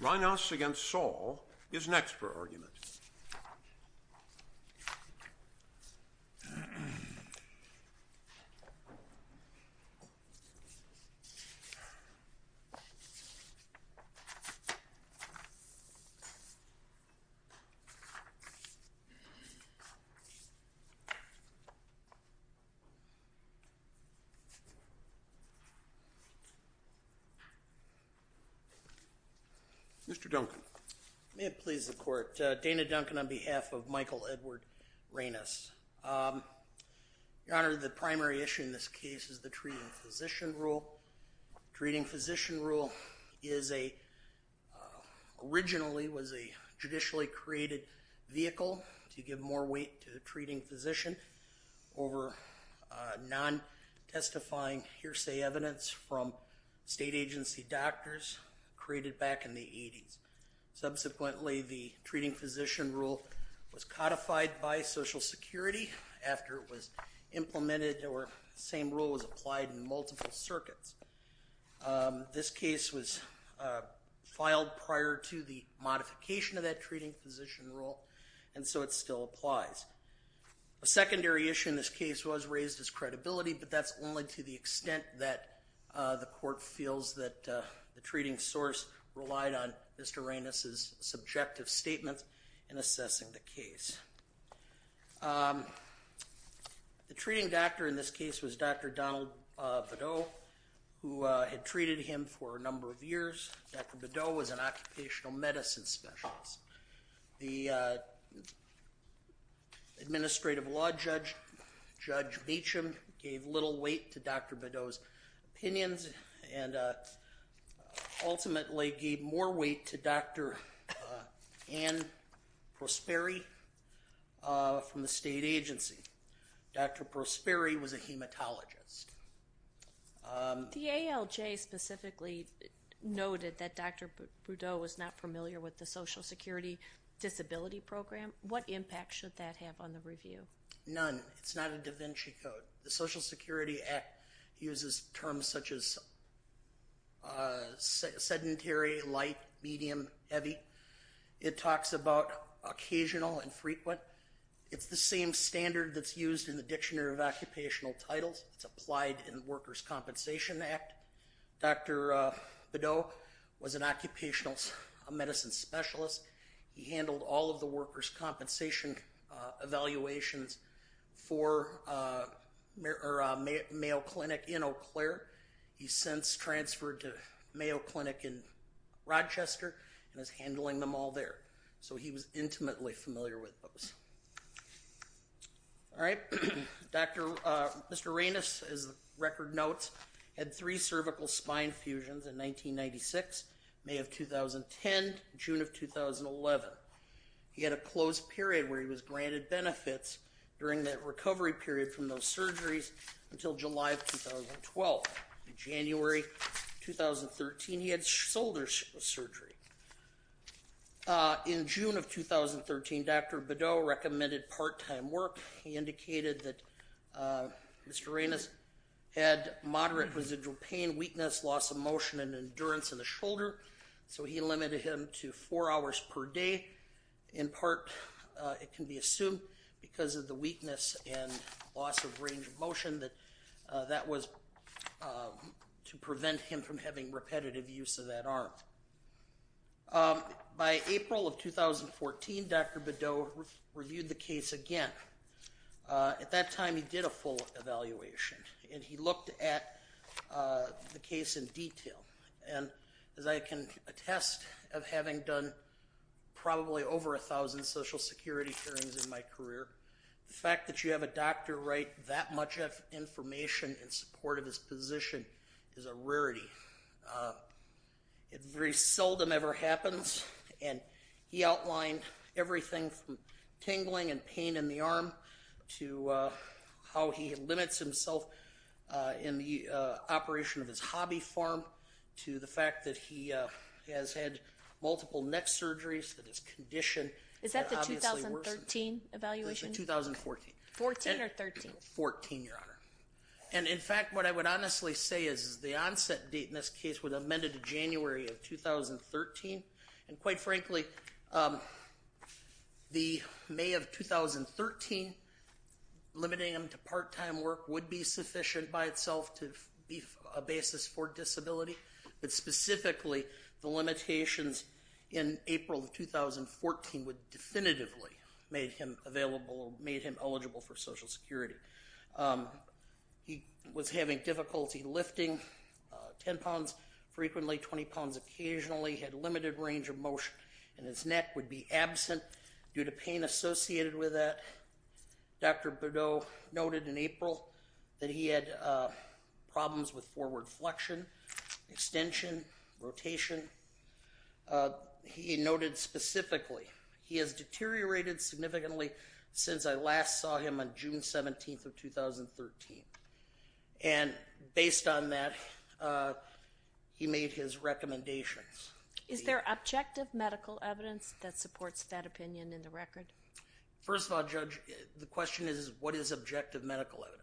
Reinaas v. Saul is next for argument. Mr. Duncan. May it please the court, Dana Duncan on behalf of Michael Edward Reinaas. Your Honor, the primary issue in this case is the treating physician rule. Treating physician rule is a, originally was a judicially created vehicle to give more weight to the treating physician over non-testifying hearsay evidence from state agency doctors created back in the 80s. Subsequently, the treating physician rule was codified by Social Security after it was implemented or the same rule was applied in multiple circuits. This case was filed prior to the modification of that treating physician rule, and so it still applies. A secondary issue in this case was raised is credibility, but that's only to the extent that the court feels that the treating source relied on Mr. Reinaas' subjective statements in assessing the case. The treating doctor in this case was Dr. Donald Bedeau, who had treated him for a number of years. Dr. Bedeau was an occupational medicine specialist. The administrative law judge, Judge Beauchamp, gave little weight to Dr. Bedeau's opinions and ultimately gave more weight to Dr. Ann Prosperi from the state agency. Dr. Prosperi was a hematologist. The ALJ specifically noted that Dr. Bedeau was not familiar with the Social Security disability program. What impact should that have on the review? None. It's not a da Vinci code. The Social Security Act uses terms such as sedentary, light, medium, heavy. It talks about occasional and frequent. It's the same standard that's used in the Dictionary of Occupational Titles. It's applied in the Workers' Compensation Act. Dr. Bedeau was an occupational medicine specialist. He handled all of the workers' compensation evaluations for Mayo Clinic in Eau Claire. He's since transferred to Mayo Clinic in Rochester and is handling them all there. So he was intimately familiar with those. Mr. Reynos, as the record notes, had three cervical spine fusions in 1996, May of 2010, and June of 2011. He had a closed period where he was granted benefits during that recovery period from those surgeries until July of 2012. In January 2013, he had shoulder surgery. In June of 2013, Dr. Bedeau recommended part-time work. He indicated that Mr. Reynos had moderate residual pain, weakness, loss of motion, and endurance in the shoulder. So he limited him to four hours per day. In part, it can be assumed because of the weakness and loss of range of motion that was to prevent him from having repetitive use of that arm. By April of 2014, Dr. Bedeau reviewed the case again. At that time, he did a full evaluation, and he looked at the case in detail. And as I can attest of having done probably over 1,000 Social Security hearings in my nation in support of his position is a rarity. It very seldom ever happens, and he outlined everything from tingling and pain in the arm to how he limits himself in the operation of his hobby farm to the fact that he has had multiple neck surgeries, that his condition had obviously worsened. Is that the 2013 evaluation? It's the 2014. 14 or 13? 14, Your Honor. And in fact, what I would honestly say is the onset date in this case was amended to January of 2013. And quite frankly, the May of 2013 limiting him to part-time work would be sufficient by itself to be a basis for disability. But specifically, the limitations in April of 2014 would definitively made him available for Social Security. He was having difficulty lifting 10 pounds frequently, 20 pounds occasionally, had limited range of motion, and his neck would be absent due to pain associated with that. Dr. Bedeau noted in April that he had problems with forward flexion, extension, rotation. He noted specifically, he has deteriorated significantly since I last saw him on June 17th of 2013. And based on that, he made his recommendations. Is there objective medical evidence that supports that opinion in the record? First of all, Judge, the question is what is objective medical evidence?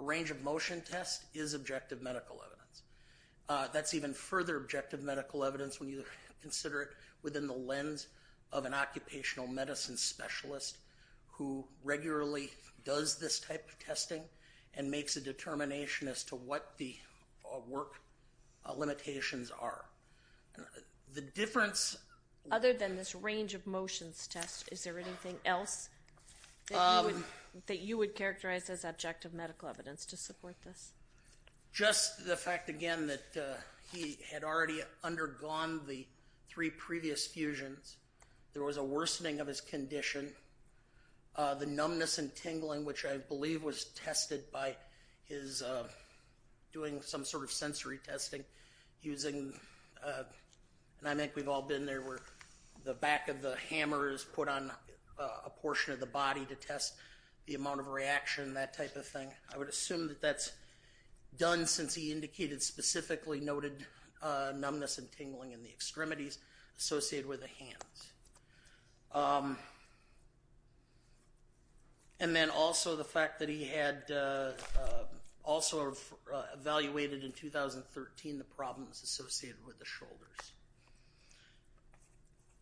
A range of motion test is objective medical evidence. That's even further objective medical evidence when you consider it within the lens of an occupational medicine specialist who regularly does this type of testing and makes a determination as to what the work limitations are. The difference... Other than this range of motions test, is there anything else that you would characterize as objective medical evidence to support this? Just the fact, again, that he had already undergone the three previous fusions. There was a worsening of his condition. The numbness and tingling, which I believe was tested by his doing some sort of sensory testing using... And I think we've all been there where the back of the hammer is put on a portion of the body to test the amount of reaction, that type of thing. I would assume that that's done since he indicated specifically noted numbness and tingling in the extremities associated with the hands. And then also the fact that he had also evaluated in 2013 the problems associated with the shoulders.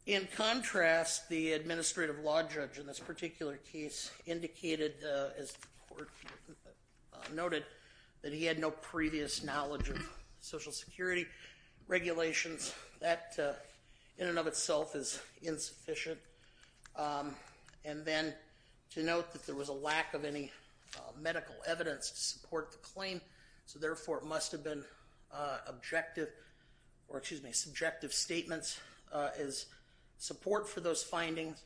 In contrast, the administrative law judge in this particular case indicated, as the court noted, that he had no previous knowledge of Social Security regulations. That, in and of itself, is insufficient. And then to note that there was a lack of any medical evidence to support the claim, so therefore it must have been subjective statements as support for those findings.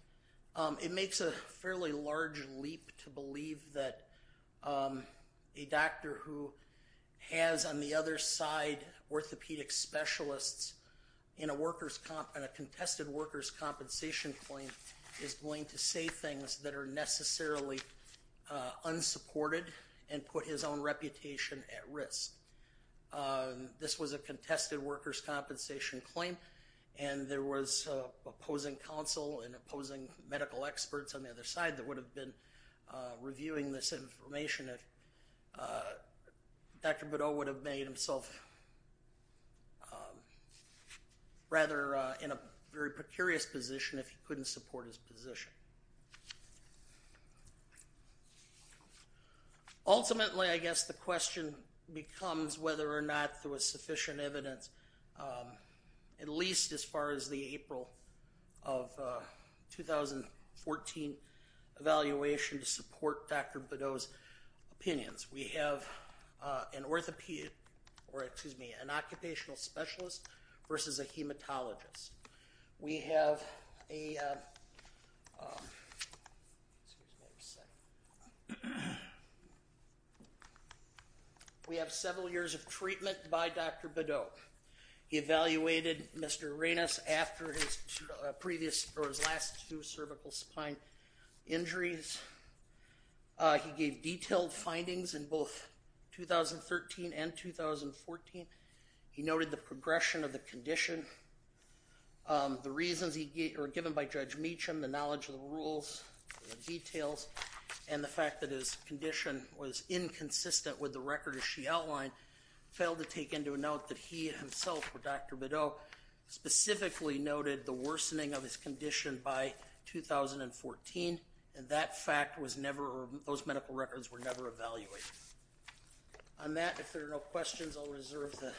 It makes a fairly large leap to believe that a doctor who has, on the other side, orthopedic specialists in a contested workers' compensation claim is going to say things that are necessarily unsupported and put his own reputation at risk. This was a contested workers' compensation claim, and there was opposing counsel and opposing medical experts on the other side that would have been reviewing this information if Dr. Bedeau would have made himself rather in a very precarious position if he couldn't fully support his position. Ultimately, I guess the question becomes whether or not there was sufficient evidence, at least as far as the April of 2014 evaluation, to support Dr. Bedeau's opinions. We have an occupational specialist versus a hematologist. We have several years of treatment by Dr. Bedeau. He evaluated Mr. Arenas after his last two cervical spine injuries. He gave detailed findings in both 2013 and 2014. He noted the progression of the condition, the reasons given by Judge Meacham, the knowledge of the rules, the details, and the fact that his condition was inconsistent with the record as she outlined. He failed to take into note that he himself, or Dr. Bedeau, specifically noted the worsening of his condition by 2014, and those medical records were never evaluated. On that, if there are no questions, I'll reserve the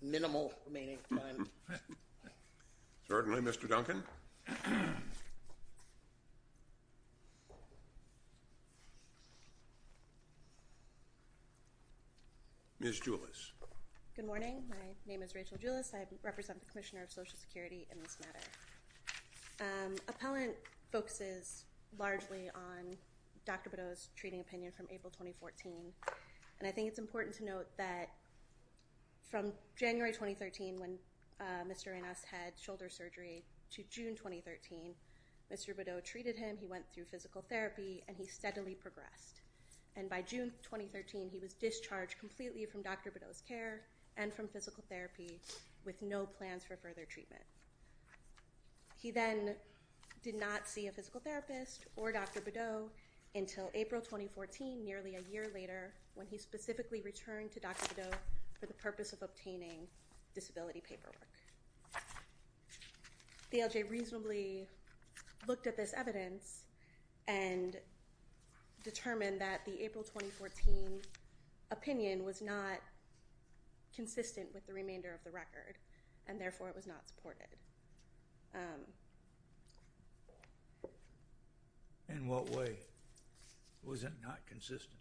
minimal remaining time. Certainly, Mr. Duncan. Ms. Julis. Good morning. My name is Rachel Julis. I represent the Commissioner of Social Security in this matter. Appellant focuses largely on Dr. Bedeau's treating opinion from April 2014. I think it's important to note that from January 2013, when Mr. Arenas had shoulder surgery, to June 2013, Mr. Bedeau treated him, he went through physical therapy, and he steadily progressed. By June 2013, he was discharged completely from Dr. Bedeau's care and from physical therapy with no plans for further treatment. He then did not see a physical therapist or Dr. Bedeau until April 2014, nearly a year later, when he specifically returned to Dr. Bedeau for the purpose of obtaining disability paperwork. The LJ reasonably looked at this evidence and determined that the April 2014 opinion was not consistent with the remainder of the record, and therefore, it was not supported. In what way was it not consistent?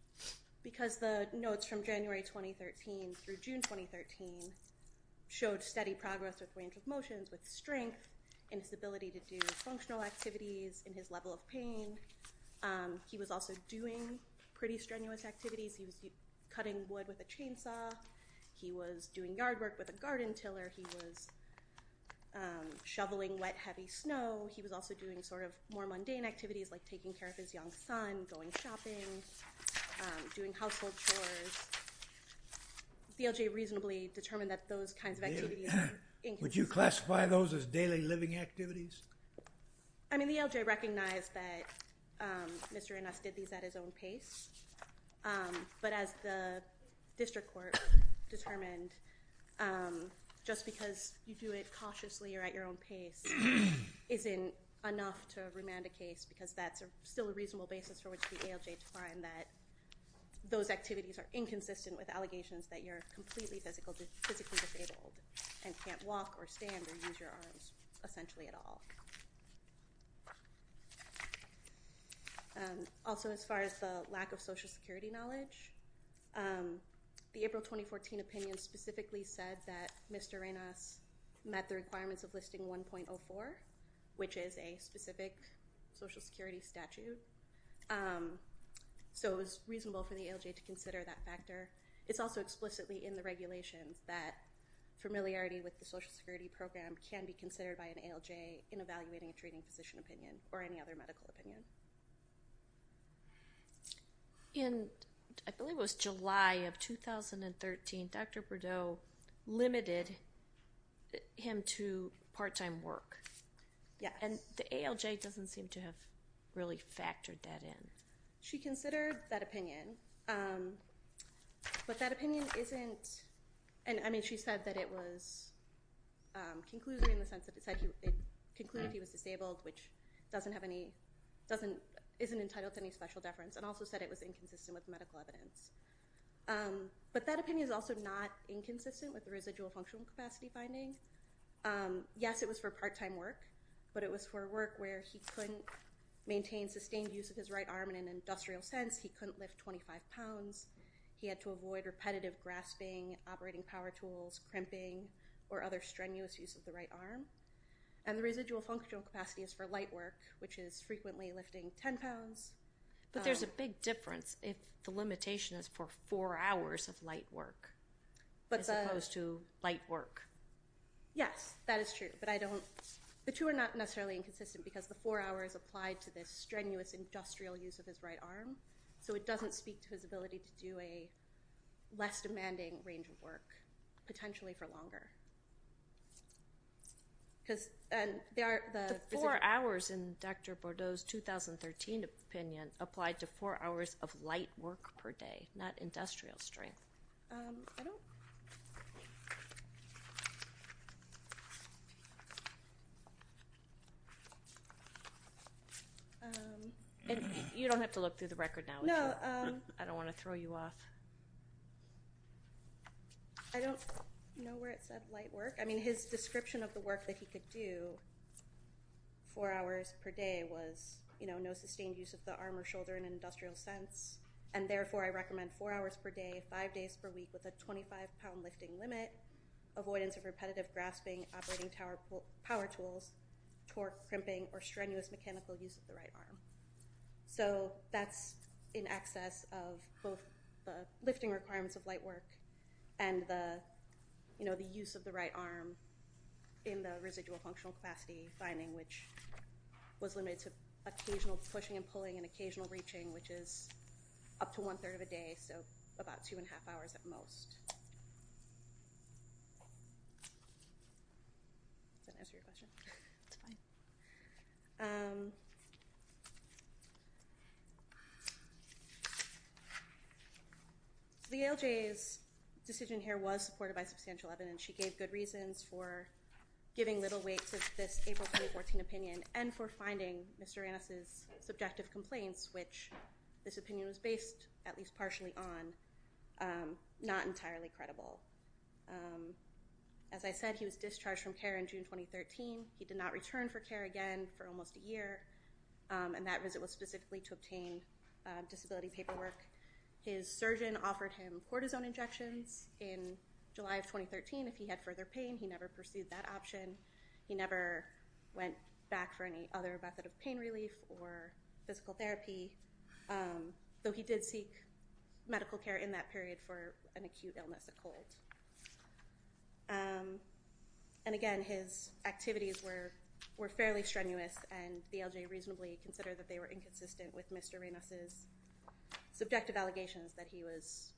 Because the notes from January 2013 through June 2013 showed steady progress with range of motions, with strength in his ability to do functional activities, in his level of pain. He was also doing pretty strenuous activities. He was cutting wood with a chainsaw. He was doing yard work with a garden tiller. He was shoveling wet, heavy snow. He was also doing sort of more mundane activities like taking care of his young son, going shopping, doing household chores. The LJ reasonably determined that those kinds of activities were inconsistent. Would you classify those as daily living activities? I mean, the LJ recognized that Mr. Ennis did these at his own pace, but as the district court determined, just because you do it cautiously or at your own pace isn't enough to remand a case because that's still a reasonable basis for which the LJ to find that those activities are inconsistent with allegations that you're completely physically disabled and can't walk or stand or use your arms essentially at all. Also, as far as the lack of Social Security knowledge, the April 2014 opinion specifically said that Mr. Ennis met the requirements of Listing 1.04, which is a specific Social Security statute, so it was reasonable for the LJ to consider that factor. It's also explicitly in the regulations that familiarity with the Social Security program can be considered by an ALJ in evaluating a treating physician opinion or any other medical opinion. In, I believe it was July of 2013, Dr. Bordeaux limited him to part-time work. Yes. And the ALJ doesn't seem to have really factored that in. She considered that opinion, but that opinion isn't, I mean, she said that it was conclusive in the sense that it concluded he was disabled, which isn't entitled to any special deference and also said it was inconsistent with medical evidence, but that opinion is also not inconsistent with the residual functional capacity finding. Yes, it was for part-time work, but it was for work where he couldn't maintain sustained use of his right arm in an industrial sense. He couldn't lift 25 pounds. He had to avoid repetitive grasping, operating power tools, crimping, or other strenuous use of the right arm, and the residual functional capacity is for light work, which is frequently lifting 10 pounds. But there's a big difference if the limitation is for four hours of light work as opposed to light work. Yes, that is true, but I don't, the two are not necessarily inconsistent because the four hours applied to this strenuous industrial use of his right arm, so it doesn't speak to his ability to do a less demanding range of work, potentially for longer. The four hours in Dr. Bordeaux's 2013 opinion applied to four hours of light work per day, not industrial strength. I don't... You don't have to look through the record now, do you? No. I don't want to throw you off. I don't know where it said light work. I mean, his description of the work that he could do four hours per day was no sustained use of the arm or shoulder in an industrial sense, and therefore I recommend four hours per day, five days per week with a 25-pound lifting limit, avoidance of repetitive grasping, operating power tools, torque, crimping, or strenuous mechanical use of the right arm. So that's in excess of both the lifting requirements of light work and the use of the right arm in the residual functional capacity finding, which was limited to occasional pushing and about two and a half hours at most. Does that answer your question? It's fine. So the ALJ's decision here was supported by substantial evidence. She gave good reasons for giving little weight to this April 2014 opinion and for finding Mr. Rannis's subjective complaints, which this opinion was based at least partially on, not entirely credible. As I said, he was discharged from care in June 2013. He did not return for care again for almost a year, and that visit was specifically to obtain disability paperwork. His surgeon offered him cortisone injections in July of 2013. If he had further pain, he never pursued that option. He never went back for any other method of pain relief or physical therapy, though he did seek medical care in that period for an acute illness, a cold. And again, his activities were fairly strenuous, and the ALJ reasonably considered that they were inconsistent with Mr. Rannis's subjective allegations that he was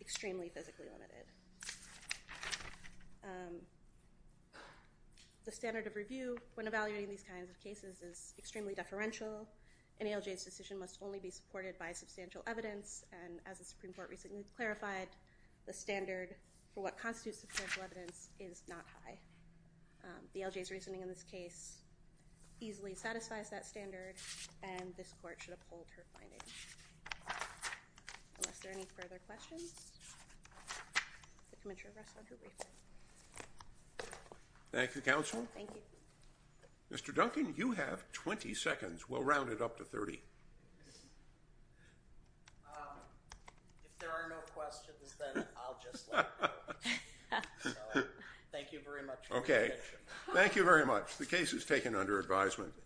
extremely physically limited. The standard of review when evaluating these kinds of cases is extremely deferential. An ALJ's decision must only be supported by substantial evidence, and as the Supreme Court recently clarified, the standard for what constitutes substantial evidence is not high. The ALJ's reasoning in this case easily satisfies that standard, and this Court should uphold her finding. Unless there are any further questions, the committee will address them briefly. Thank you, Counsel. Thank you. Mr. Duncan, you have 20 seconds. We'll round it up to 30. If there are no questions, then I'll just let it go. So, thank you very much for your attention. Okay. Thank you very much. The case is taken under advisement.